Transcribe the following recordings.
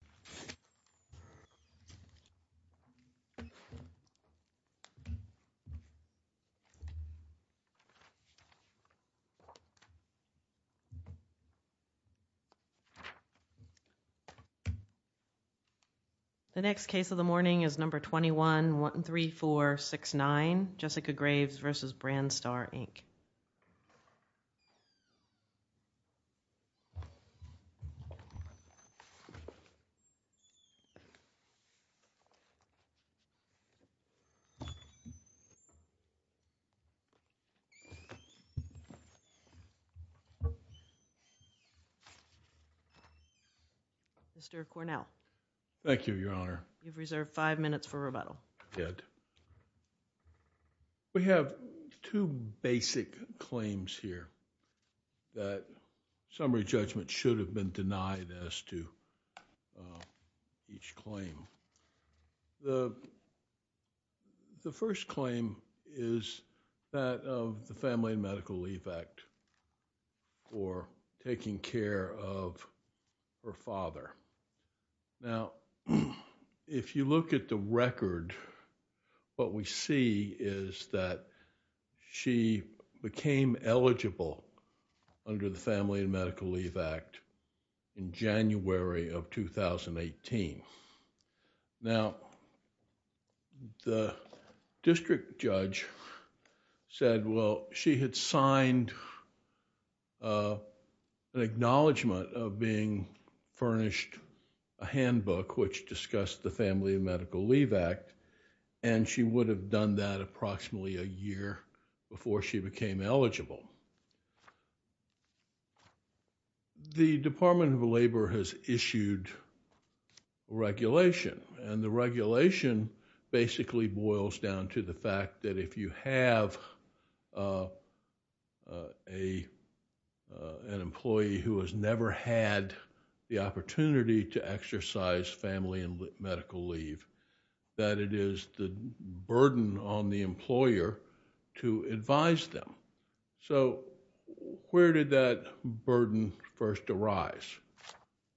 The Court is adjourned. Mr. Cornell. Thank you, Your Honor. We have two basic claims here that summary judgment should have been denied as to each claim. The first claim is that of the Family and Medical Leave Act for taking care of her father. Now, if you look at the record, what we see is that she became eligible under the Family and Medical Leave Act in January of 2018. Now, the district judge said, well, she had signed an acknowledgment of being furnished a handbook which discussed the Family and Medical Leave Act and she would have done that approximately a year before she became eligible. The Department of Labor has issued regulation, and the regulation basically boils down to the fact that if you have an employee who has never had the opportunity to exercise family and medical leave, that it is the burden on the employer to advise them. So, where did that burden first arise?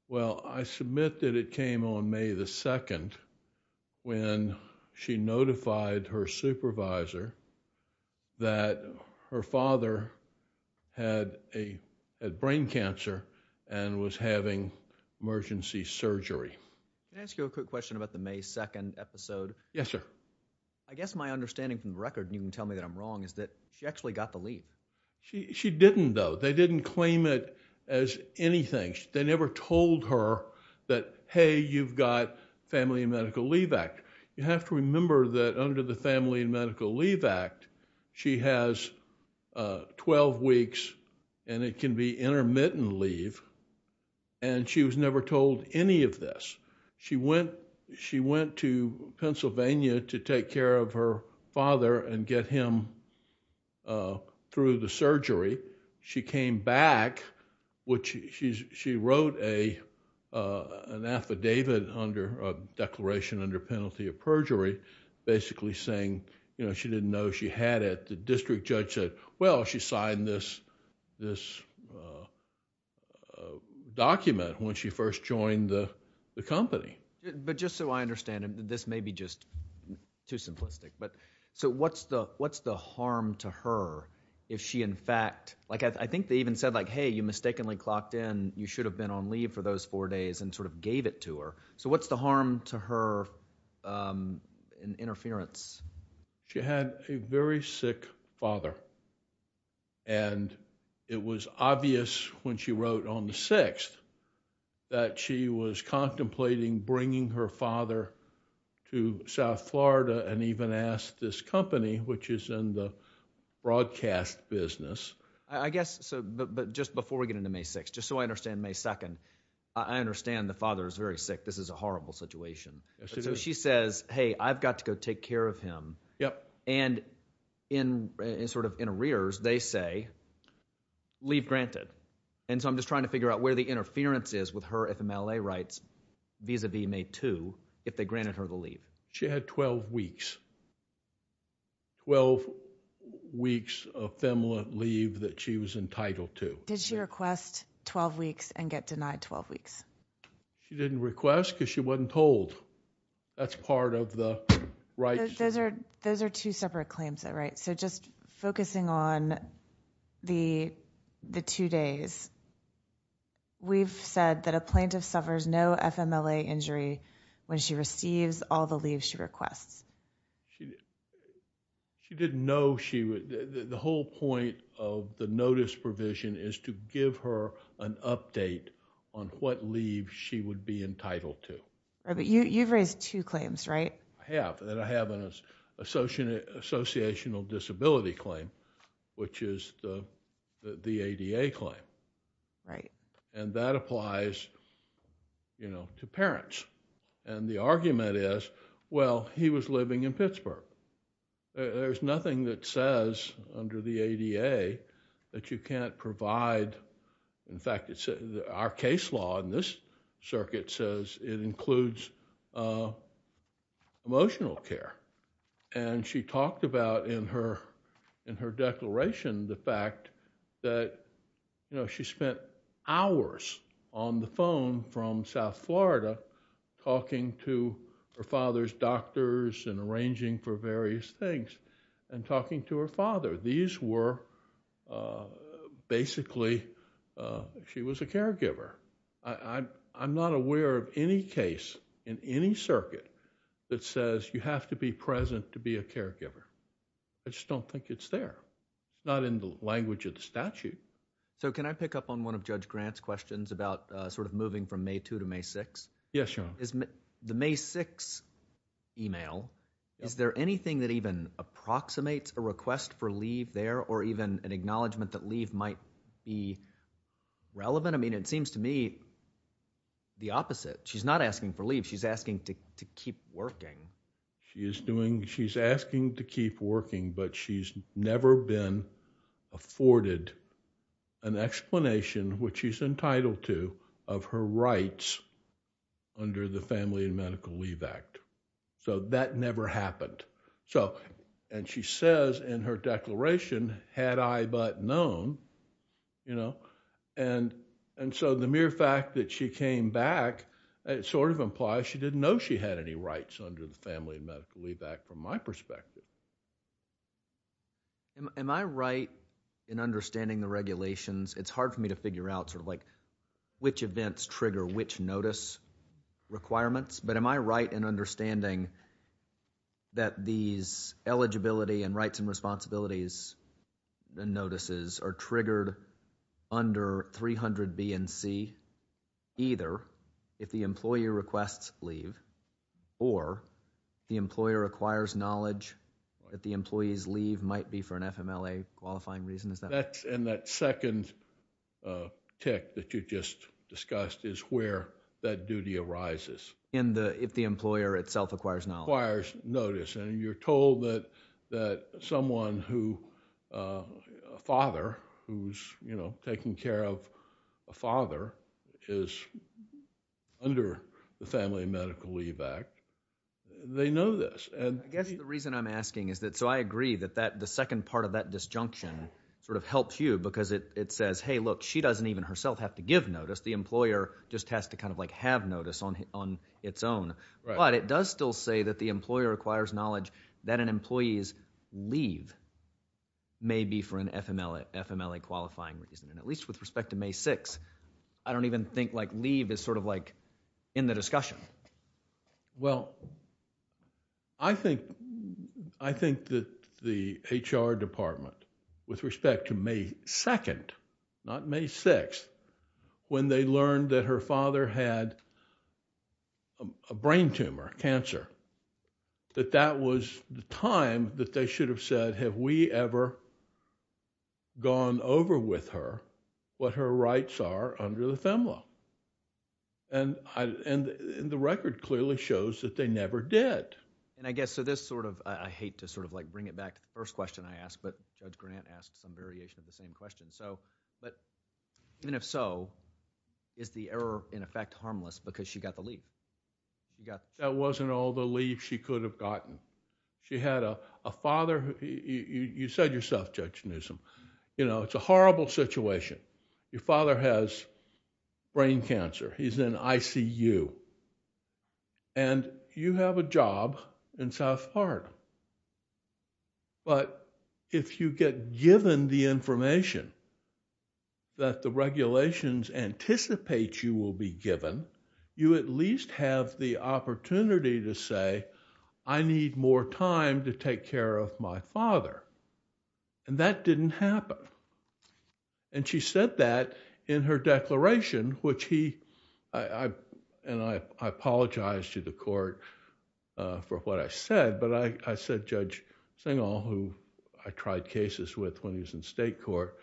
Well, I submit that it came on May the 2nd when she notified her supervisor that her father had brain cancer and was having emergency surgery. Can I ask you a quick question about the May 2nd episode? Yes, sir. I guess my understanding from the record, and you can tell me that I'm wrong, is that she actually got the leave. She didn't, though. They didn't claim it as anything. They never told her that, hey, you've got Family and Medical Leave Act. You have to remember that under the Family and Medical Leave Act, she has 12 weeks and it can be intermittent leave, and she was never told any of this. She went to Pennsylvania to take care of her father and get him through the surgery. She came back, which she wrote an affidavit under, a declaration under penalty of perjury basically saying, you know, she didn't know she had it. The district judge said, well, she signed this document when she first joined the company. But just so I understand, and this may be just too simplistic, so what's the harm to her if she in fact... I think they even said like, hey, you mistakenly clocked in, you should have been on leave for those four days and sort of gave it to her. What's the harm to her in interference? She had a very sick father, and it was obvious when she wrote on the 6th that she was contemplating bringing her father to South Florida and even asked this company, which is in the broadcast business. I guess, but just before we get into May 6th, just so I understand, May 2nd, I understand the father is very sick. This is a horrible situation. Yes, it is. So she says, hey, I've got to go take care of him. And in sort of in arrears, they say, leave granted. And so I'm just trying to figure out where the interference is with her FMLA rights vis-a-vis May 2, if they granted her the leave. She had 12 weeks, 12 weeks of FMLA leave that she was entitled to. Did she request 12 weeks and get denied 12 weeks? She didn't request because she wasn't told. That's part of the rights. Those are two separate claims, though, right? So just focusing on the two days, we've said that a plaintiff suffers no FMLA injury when she receives all the leaves she requests. She didn't know she would, the whole point of the notice provision is to give her an leave she would be entitled to. But you've raised two claims, right? I have. And I have an associational disability claim, which is the ADA claim. And that applies to parents. And the argument is, well, he was living in Pittsburgh. There's nothing that says under the ADA that you can't provide. In fact, our case law in this circuit says it includes emotional care. And she talked about in her declaration the fact that she spent hours on the phone from South Florida talking to her father's doctors and arranging for various things and talking to her father. These were basically, she was a caregiver. I'm not aware of any case in any circuit that says you have to be present to be a caregiver. I just don't think it's there. It's not in the language of the statute. So can I pick up on one of Judge Grant's questions about sort of moving from May 2 to May 6? Yes, Your Honor. Is the May 6 email, is there anything that even approximates a request for leave there or even an acknowledgment that leave might be relevant? I mean, it seems to me the opposite. She's not asking for leave. She's asking to keep working. She is doing, she's asking to keep working, but she's never been afforded an explanation, which she's entitled to, of her rights under the Family and Medical Leave Act. So that never happened. And she says in her declaration, had I but known. And so the mere fact that she came back, it sort of implies she didn't know she had any rights under the Family and Medical Leave Act from my perspective. Am I right in understanding the regulations? It's hard for me to figure out sort of like which events trigger which notice requirements, but am I right in understanding that these eligibility and rights and responsibilities and notices are triggered under 300 B and C, either if the employee requests leave or the employer acquires knowledge that the employee's leave might be for an FMLA qualifying reason? Is that right? And that second tick that you just discussed is where that duty arises. In the, if the employer itself acquires knowledge. Acquires notice. And you're told that someone who, a father who's, you know, taking care of a father is under the Family and Medical Leave Act. They know this. I guess the reason I'm asking is that, so I agree that the second part of that disjunction sort of helps you because it says, hey, look, she doesn't even herself have to give notice. The employer just has to kind of like have notice on its own. But it does still say that the employer acquires knowledge that an employee's leave may be for an FMLA qualifying reason. And at least with respect to May 6th, I don't even think like leave is sort of like in the discussion. Well, I think, I think that the HR department with respect to May 2nd, not May 6th, when they learned that her father had a brain tumor, cancer, that that was the time that they should have said, have we ever gone over with her what her rights are under the FMLA? And I, and the record clearly shows that they never did. And I guess, so this sort of, I hate to sort of like bring it back to the first question I asked, but Judge Grant asked some variation of the same question. So, but even if so, is the error in effect harmless because she got the leave? That wasn't all the leave she could have gotten. She had a father, you said yourself, Judge Newsom, you know, it's a horrible situation. Your father has brain cancer. He's in ICU. And you have a job in South Park. But if you get given the information that the regulations anticipate you will be given, you at least have the opportunity to say, I need more time to take care of my father. And that didn't happen. And she said that in her declaration, which he, and I apologize to the court for what I said, but I said Judge Singal, who I tried cases with when he was in state court,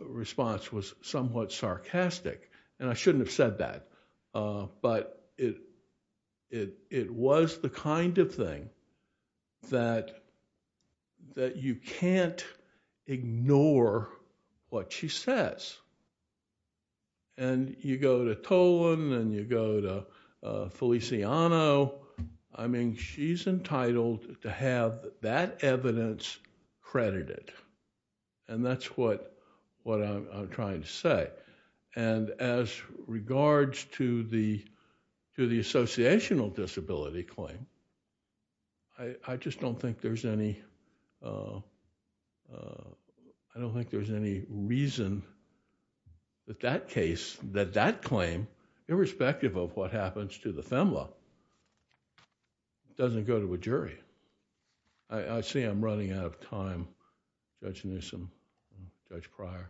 response was somewhat sarcastic. And I shouldn't have said that. But it was the kind of thing that you can't ignore what she says. And you go to Tolan and you go to Feliciano. I mean, she's entitled to have that evidence credited. And that's what I'm trying to say. And as regards to the associational disability claim, I just don't think there's any reason that that case, that that claim, irrespective of what happens to the FEMLA, doesn't go to a jury. I see I'm running out of time, Judge Newsom, Judge Pryor.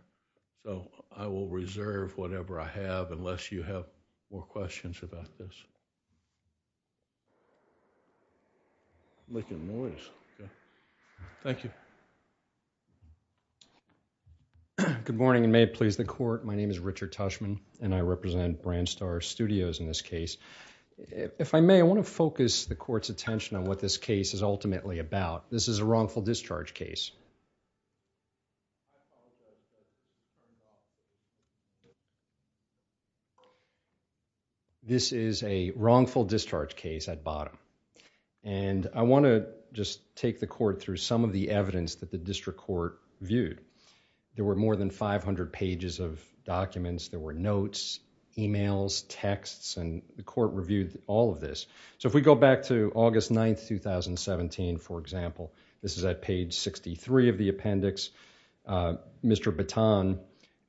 So, I will reserve whatever I have unless you have more questions about this. I'm making noise. Thank you. Good morning and may it please the court. My name is Richard Tushman and I represent Brandstar Studios in this case. If I may, I want to focus the court's attention on what this case is ultimately about. This is a wrongful discharge case. This is a wrongful discharge case at bottom. And I want to just take the court through some of the evidence that the district court viewed. There were more than 500 pages of documents. There were notes, emails, texts, and the court reviewed all of this. So, if we go back to August 9th, 2017, for example, this is at page 63 of the appendix. Mr. Baton,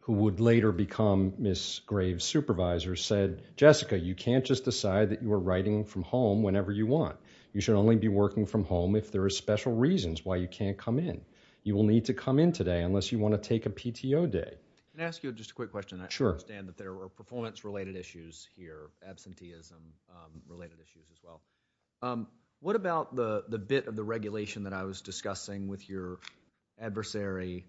who would later become Ms. Graves' supervisor, said, Jessica, you can't just decide that you are writing from home whenever you want. You should only be working from home if there are special reasons why you can't come in. You will need to come in today unless you want to take a PTO day. Can I ask you just a quick question? Sure. I understand that there were performance-related issues here, absenteeism-related issues as well. What about the bit of the regulation that I was discussing with your adversary,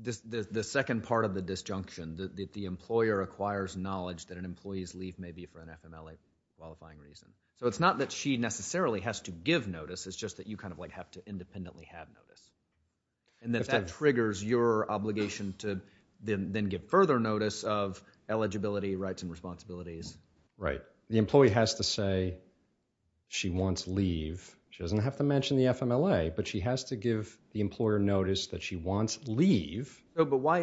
the second part of the disjunction, that the employer acquires knowledge that an employee's leave may be for an FMLA qualifying reason? So, it's not that she necessarily has to give notice. It's just that you kind of like have to independently have notice. And that that triggers your obligation to then get further notice of eligibility, rights, and responsibilities. Right. The employee has to say she wants leave. She doesn't have to mention the FMLA, but she has to give the employer notice that she wants leave.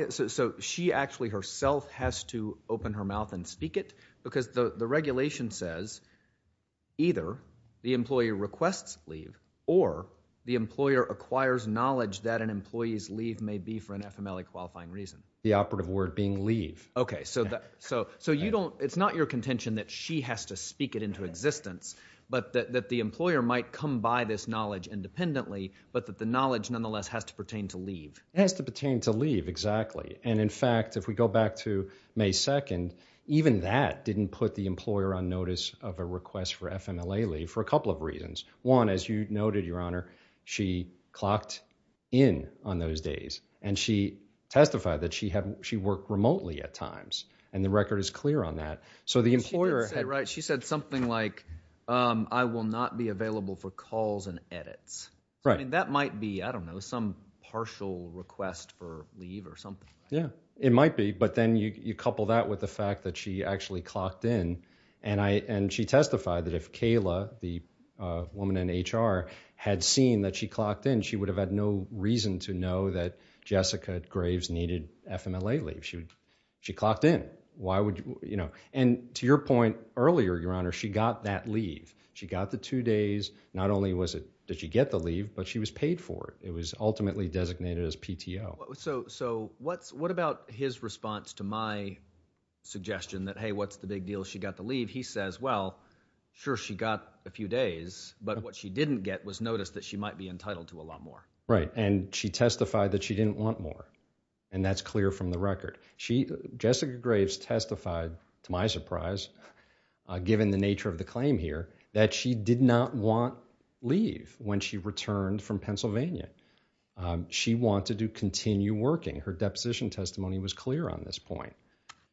So, she actually herself has to open her mouth and speak it? Because the regulation says either the employee requests leave or the employer acquires knowledge that an employee's leave may be for an FMLA qualifying reason. The operative word being leave. Okay. So, it's not your contention that she has to speak it into existence, but that the employer might come by this knowledge independently, but that the knowledge nonetheless has to pertain to leave. It has to pertain to leave, exactly. And in fact, if we go back to May 2nd, even that didn't put the employer on notice of a request for FMLA leave for a couple of reasons. One, as you noted, Your Honor, she clocked in on those days. And she testified that she worked remotely at times. And the record is clear on that. So, the employer... Right. She said something like, I will not be available for calls and edits. Right. I mean, that might be, I don't know, some partial request for leave or something. Yeah. It might be. But then you couple that with the fact that she actually clocked in. And she testified that if Kayla, the woman in HR, had seen that she clocked in, she would have had no reason to know that Jessica Graves needed FMLA leave. She clocked in. And to your point earlier, Your Honor, she got that leave. She got the two days. Not only did she get the leave, but she was paid for it. It was ultimately designated as PTO. So, what about his response to my suggestion that, hey, what's the big deal? She got the leave. He says, well, sure, she got a few days. But what she didn't get was notice that she might be entitled to a lot more. Right. And she testified that she didn't want more. And that's clear from the record. Jessica Graves testified, to my surprise, given the nature of the claim here, that she did not want leave when she returned from Pennsylvania. She wanted to continue working. Her deposition testimony was clear on this point.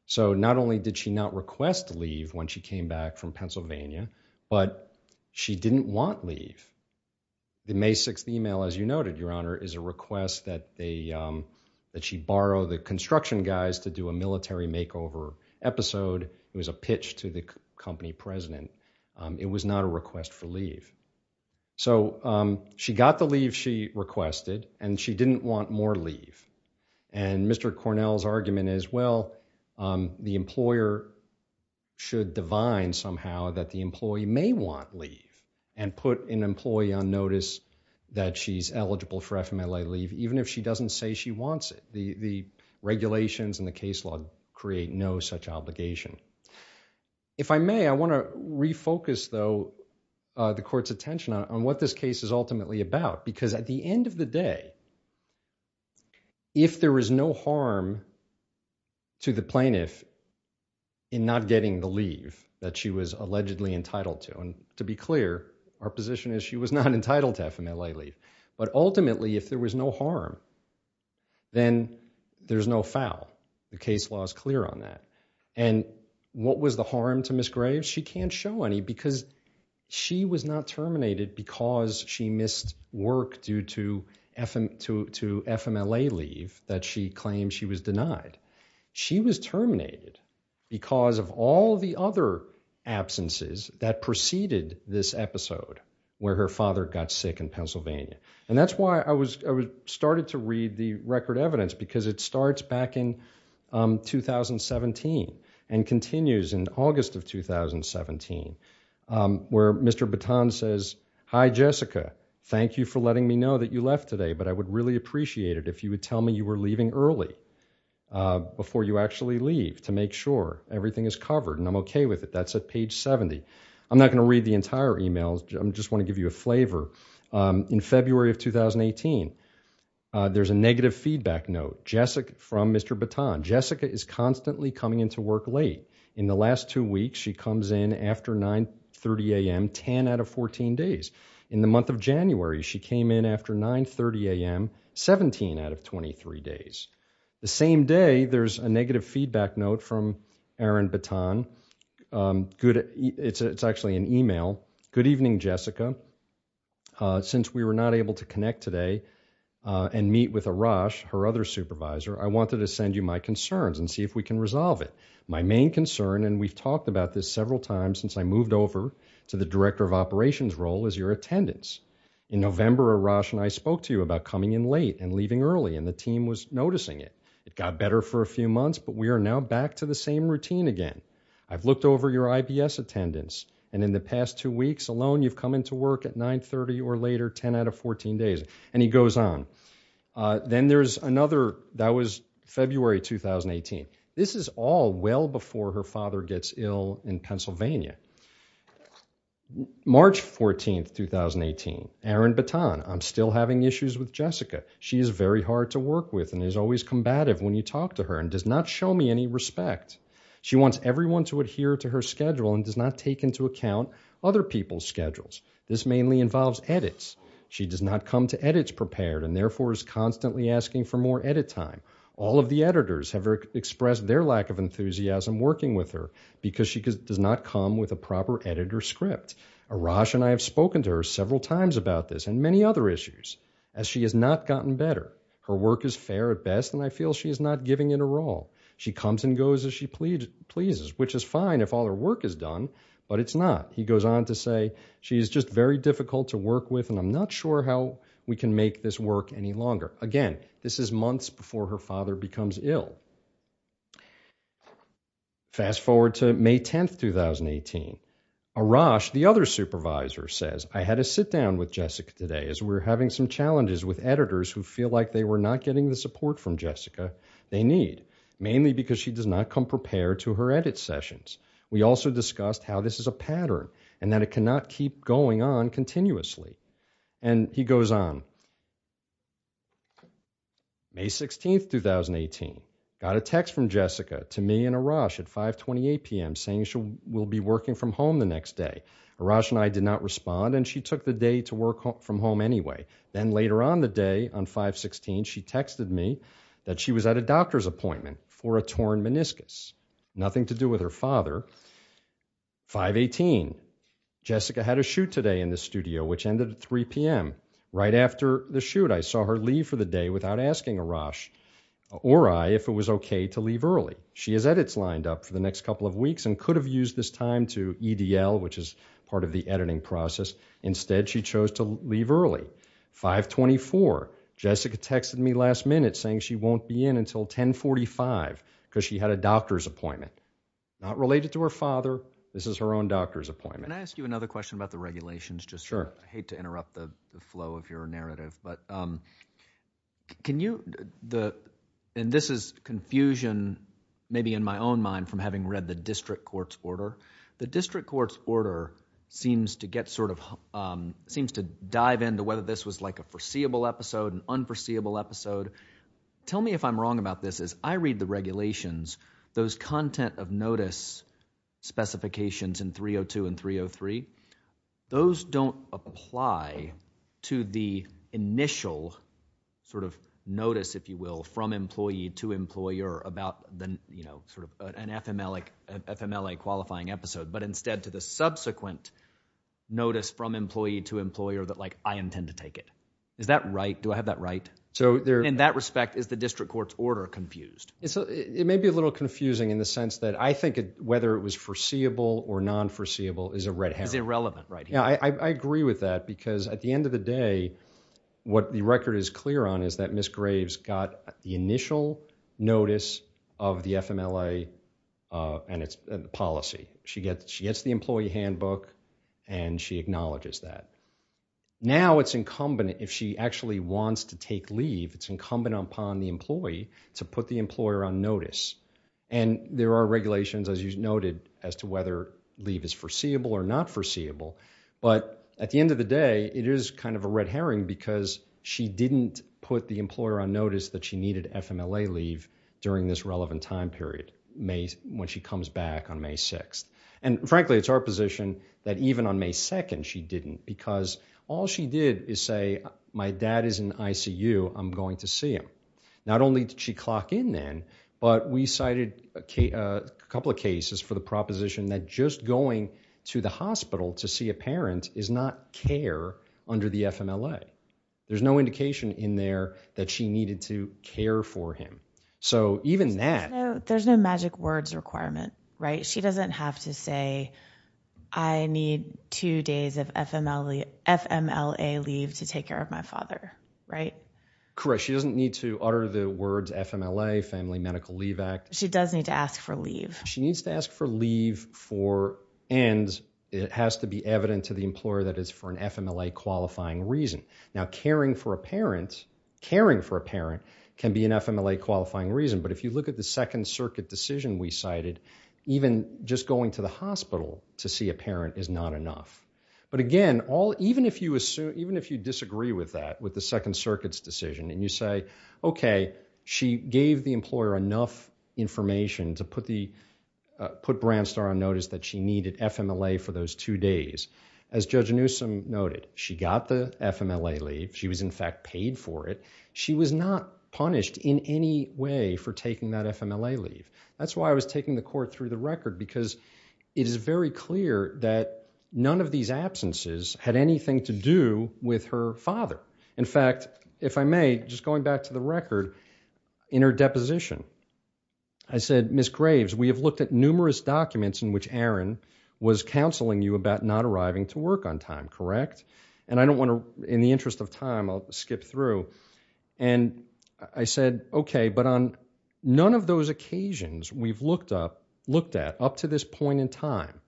So, not only did she not request leave when she came back from Pennsylvania, but she didn't want leave. The May 6th email, as you noted, Your Honor, is a request that she borrow the construction guys to do a military makeover episode. It was a pitch to the company president. It was not a request for leave. So, she got the leave she requested, and she didn't want more leave. And Mr. Cornell's argument is, well, the employer should divine somehow that the employee may want leave and put an employee on notice that she's eligible for FMLA leave, even if she doesn't say she wants it. The regulations and the case law create no such obligation. If I may, I want to refocus, though, the court's attention on what this case is ultimately about. Because at the end of the day, if there is no harm to the plaintiff in not getting the leave that she was allegedly entitled to, and to be clear, our position is she was not entitled to FMLA leave. But ultimately, if there was no harm, then there's no foul. The case law is clear on that. And what was the harm to Ms. Graves? She can't show any, because she was not terminated because she missed work due to FMLA leave that she claimed she was denied. She was terminated because of all the other absences that preceded this episode where her father got sick in Pennsylvania. And that's why I started to read the record evidence, because it starts back in 2017 and continues in August of 2017, where Mr. Baton says, Hi, Jessica, thank you for letting me know that you left today, but I would really appreciate it if you would tell me you were leaving early before you actually leave to make sure everything is covered, and I'm okay with it. That's at page 70. I'm not going to read the entire email. I just want to give you a flavor. In February of 2018, there's a negative feedback note from Mr. Baton. Jessica is constantly coming into work late. In the last two weeks, she comes in after 9.30 a.m., 10 out of 14 days. In the month of January, she came in after 9.30 a.m., 17 out of 23 days. The same day, there's a negative feedback note from Aaron Baton. It's actually an email. Good evening, Jessica. Since we were not able to connect today and meet with Arash, her other supervisor, I wanted to send you my concerns and see if we can resolve it. My main concern, and we've talked about this several times since I moved over to the Director of Operations role, is your attendance. In November, Arash and I spoke to you about coming in late and leaving early, and the team was noticing it. It got better for a few months, but we are now back to the same routine again. I've looked over your IPS attendance, and in the past two weeks alone you've come into work at 9.30 or later, 10 out of 14 days, and he goes on. Then there's another, that was February 2018. This is all well before her father gets ill in Pennsylvania. March 14, 2018, Aaron Baton, I'm still having issues with Jessica. She is very hard to work with and is always combative when you talk to her and does not show me any respect. She wants everyone to adhere to her schedule and does not take into account other people's schedules. This mainly involves edits. She does not come to edits prepared and therefore is constantly asking for more edit time. All of the editors have expressed their lack of enthusiasm working with her because she does not come with a proper edit or script. Arash and I have spoken to her several times about this and many other issues, as she has not gotten better. Her work is fair at best, and I feel she is not giving it a roll. She comes and goes as she pleases, which is fine if all her work is done, but it's not. He goes on to say, she is just very difficult to work with and I'm not sure how we can make this work any longer. Again, this is months before her father becomes ill. Fast forward to May 10, 2018. Arash, the other supervisor, says, I had a sit-down with Jessica today as we were having some challenges with editors who feel like they were not getting the support from Jessica they need. Mainly because she does not come prepared to her edit sessions. We also discussed how this is a pattern and that it cannot keep going on continuously. And he goes on. May 16, 2018. Got a text from Jessica to me and Arash at 5.28 p.m. saying she will be working from home the next day. Arash and I did not respond and she took the day to work from home anyway. Then later on the day, on 5.16, she texted me that she was at a doctor's appointment for a torn meniscus. Nothing to do with her father. 5.18. Jessica had a shoot today in the studio, which ended at 3 p.m. Right after the shoot, I saw her leave for the day without asking Arash or I if it was okay to leave early. She has edits lined up for the next couple of weeks and could have used this time to EDL, which is part of the editing process. Instead, she chose to leave early. 5.24. Jessica texted me last minute saying she won't be in until 10.45 because she had a doctor's appointment. Not related to her father. This is her own doctor's appointment. Can I ask you another question about the regulations? Sure. I hate to interrupt the flow of your narrative, but can you, and this is confusion maybe in my own mind from having read the district court's order. The district court's order seems to get sort of, seems to dive into whether this was like a foreseeable episode, an unforeseeable episode. Tell me if I'm wrong about this. As I read the regulations, those content of notice specifications in 302 and 303, those don't apply to the initial sort of notice, if you will, from employee to employer about the, you know, sort of an FMLA qualifying episode, but instead to the subsequent notice from employee to employer that like I intend to take it. Is that right? Do I have that right? In that respect, is the district court's order confused? It may be a little confusing in the sense that I think whether it was foreseeable or non-foreseeable is a red herring. It's irrelevant right here. I agree with that because at the end of the day, what the record is clear on is that Ms. Graves got the initial notice of the FMLA and its policy. She gets the employee handbook and she acknowledges that. Now it's incumbent, if she actually wants to take leave, it's incumbent upon the employee to put the employer on notice. And there are regulations, as you noted, as to whether leave is foreseeable or not foreseeable. But at the end of the day, it is kind of a red herring because she didn't put the employer on notice that she needed FMLA leave during this relevant time period when she comes back on May 6th. And frankly, it's our position that even on May 2nd she didn't because all she did is say, my dad is in ICU, I'm going to see him. Not only did she clock in then, but we cited a couple of cases for the proposition that just going to the hospital to see a parent is not care under the FMLA. There's no indication in there that she needed to care for him. So even that... There's no magic words requirement, right? She doesn't have to say, I need two days of FMLA leave to take care of my father, right? Correct. She doesn't need to utter the words FMLA, Family Medical Leave Act. She does need to ask for leave. She needs to ask for leave for... And it has to be evident to the employer that it's for an FMLA-qualifying reason. Now, caring for a parent, caring for a parent can be an FMLA-qualifying reason, but if you look at the Second Circuit decision we cited, even just going to the hospital to see a parent is not enough. But again, even if you disagree with that, with the Second Circuit's decision, and you say, OK, she gave the employer enough information to put Brandstar on notice that she needed FMLA for those two days. As Judge Newsom noted, she got the FMLA leave. She was, in fact, paid for it. She was not punished in any way for taking that FMLA leave. That's why I was taking the court through the record, because it is very clear that none of these absences had anything to do with her father. In fact, if I may, just going back to the record, in her deposition, I said, Ms. Graves, we have looked at numerous documents in which Aaron was counseling you about not arriving to work on time, correct? And I don't want to, in the interest of time, I'll skip through. And I said, OK, but on none of those occasions we've looked at up to this point in time,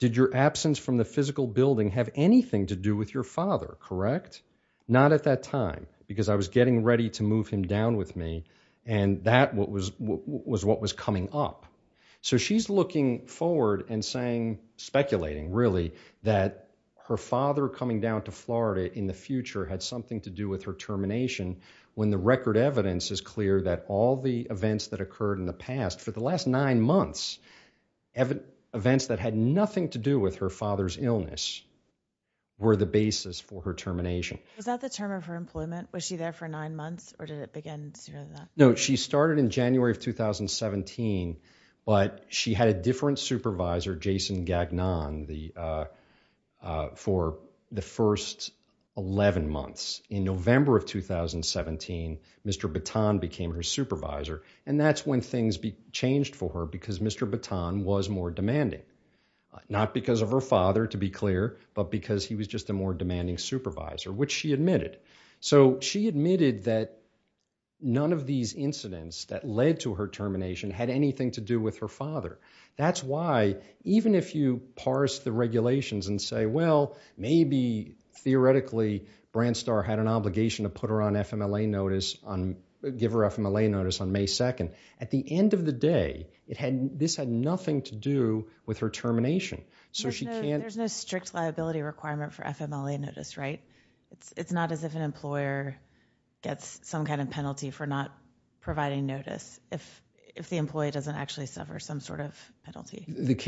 did your absence from the physical building have anything to do with your father, correct? Not at that time, because I was getting ready to move him down with me, and that was what was coming up. So she's looking forward and speculating, really, that her father coming down to Florida in the future had something to do with her termination, when the record evidence is clear that all the events that occurred in the past, for the last nine months, events that had nothing to do with her father's illness were the basis for her termination. Was that the term of her employment? Was she there for nine months, or did it begin sooner than that? No, she started in January of 2017, but she had a different supervisor, Jason Gagnon, for the first 11 months. In November of 2017, Mr. Baton became her supervisor, and that's when things changed for her, because Mr. Baton was more demanding. Not because of her father, to be clear, but because he was just a more demanding supervisor, which she admitted. So she admitted that none of these incidents that led to her termination had anything to do with her father. That's why, even if you parse the regulations and say, well, maybe, theoretically, Brandstar had an obligation to put her on FMLA notice on... give her FMLA notice on May 2nd, at the end of the day, this had nothing to do with her termination. So she can't... There's no strict liability requirement for FMLA notice, right? It's not as if an employer gets some kind of penalty for not providing notice, if the employee doesn't actually suffer some sort of penalty.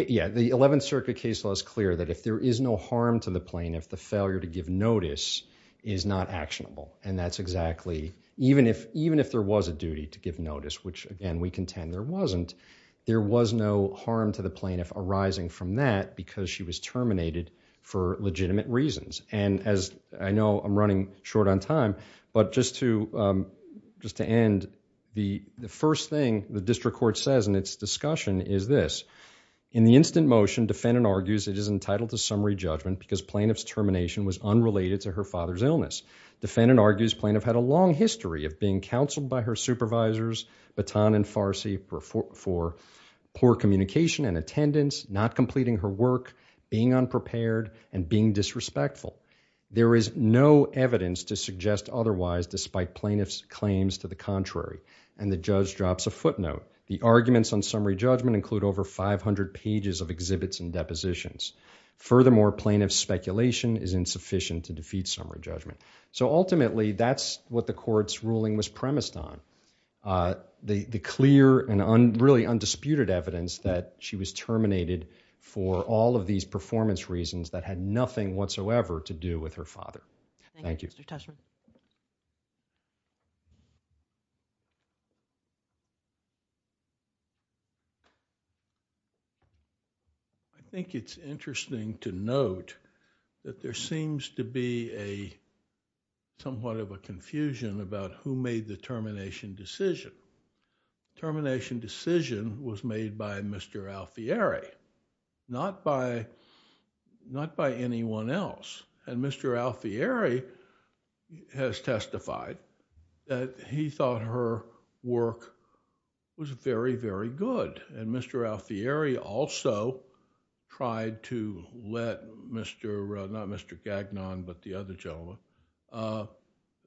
Yeah, the 11th Circuit case law is clear that if there is no harm to the plaintiff, the failure to give notice is not actionable, and that's exactly... Even if there was a duty to give notice, which, again, we contend there wasn't, there was no harm to the plaintiff arising from that because she was terminated for legitimate reasons. And as I know, I'm running short on time, but just to end, the first thing the district court says in its discussion is this. In the instant motion, defendant argues it is entitled to summary judgment because plaintiff's termination was unrelated to her father's illness. Defendant argues plaintiff had a long history of being counseled by her supervisors, Baton and Farsi, for poor communication and attendance, not completing her work, being unprepared, and being disrespectful. There is no evidence to suggest otherwise despite plaintiff's claims to the contrary. And the judge drops a footnote. The arguments on summary judgment include over 500 pages of exhibits and depositions. Furthermore, plaintiff's speculation is insufficient to defeat summary judgment. So ultimately, that's what the court's ruling was premised on. The clear and really undisputed evidence that she was terminated for all of these performance reasons that had nothing whatsoever to do with her father. Thank you. Thank you, Mr. Tushman. I think it's interesting to note that there seems to be somewhat of a confusion about who made the termination decision. Termination decision was made by Mr. Alfieri, not by anyone else. And Mr. Alfieri has testified that he thought her work was very, very good. And Mr. Alfieri also tried to let Mr., not Mr. Gagnon, but the other gentleman,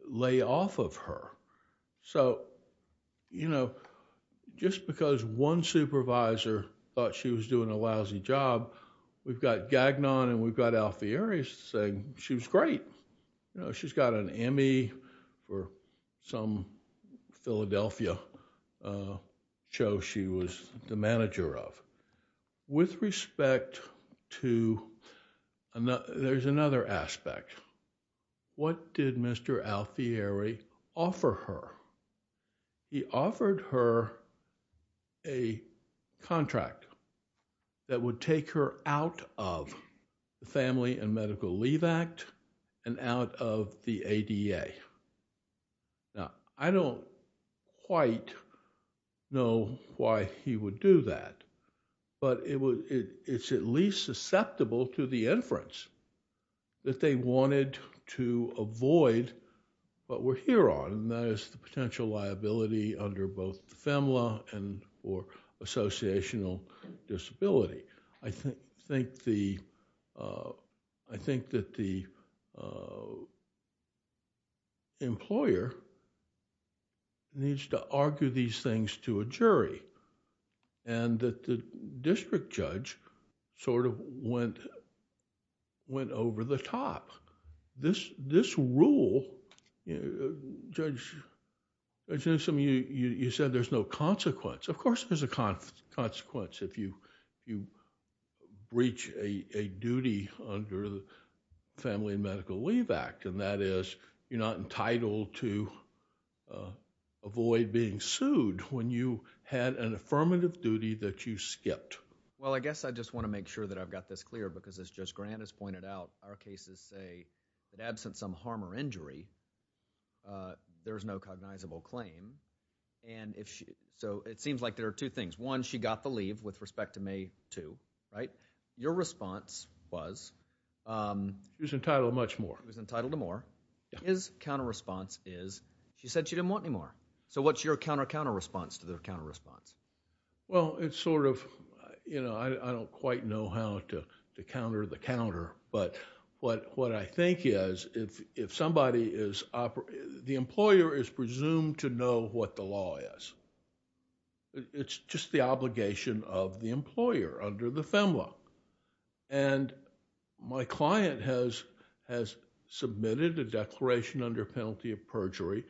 lay off of her. So just because one supervisor thought she was doing a lousy job, we've got Gagnon and we've got Alfieri saying she was great. She's got an Emmy for some Philadelphia show she was the manager of. With respect to, there's another aspect. What did Mr. Alfieri offer her? He offered her a contract that would take her out of the Family and Medical Leave Act and out of the ADA. Now, I don't quite know why he would do that, but it's at least susceptible to the inference that they wanted to avoid what we're here on, and that is the potential liability under both the FEMLA or associational disability. I think that the employer needs to argue these things to a jury and that the district judge sort of went over the top. This rule, judge, you said there's no consequence. Of course, there's a consequence if you breach a duty under the Family and Medical Leave Act, and that is you're not entitled to avoid being sued when you had an affirmative duty that you skipped. Well, I guess I just want to make sure that I've got this clear because as Judge Grant has pointed out, our cases say that absent some harm or injury, there's no cognizable claim. So it seems like there are two things. One, she got the leave with respect to May 2, right? Your response was... She was entitled to much more. She was entitled to more. His counter response is she said she didn't want any more. So what's your counter counter response to the counter response? Well, it's sort of... I don't quite know how to counter the counter, but what I think is if somebody is... The employer is presumed to know what the law is. It's just the obligation of the employer under the FEMLA. And my client has submitted a declaration under penalty of perjury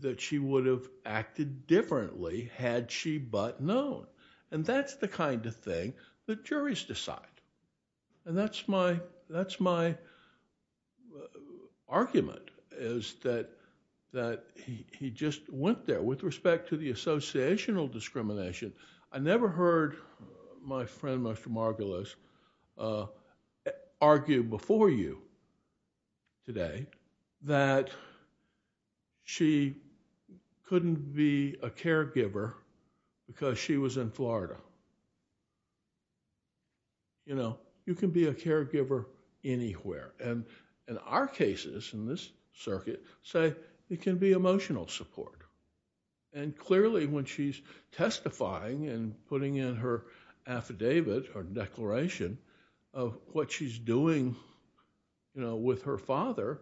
that she would have acted differently had she but known. And that's the kind of thing that juries decide. And that's my argument is that he just went there. With respect to the associational discrimination, I never heard my friend, Mr. Margulis, argue before you today that she couldn't be a caregiver because she was in Florida. You can be a caregiver anywhere. And in our cases in this circuit, say it can be emotional support. And clearly when she's testifying and putting in her affidavit or declaration of what she's doing with her father,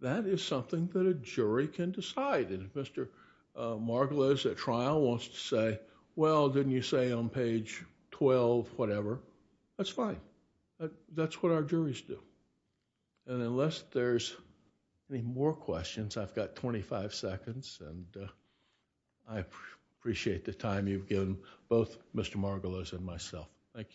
that is something that a jury can decide. And if Mr. Margulis at trial wants to say, well, didn't you say on page 12 whatever, that's fine. That's what our juries do. And unless there's any more questions, I've got 25 seconds. And I appreciate the time you've given both Mr. Margulis and myself. Thank you.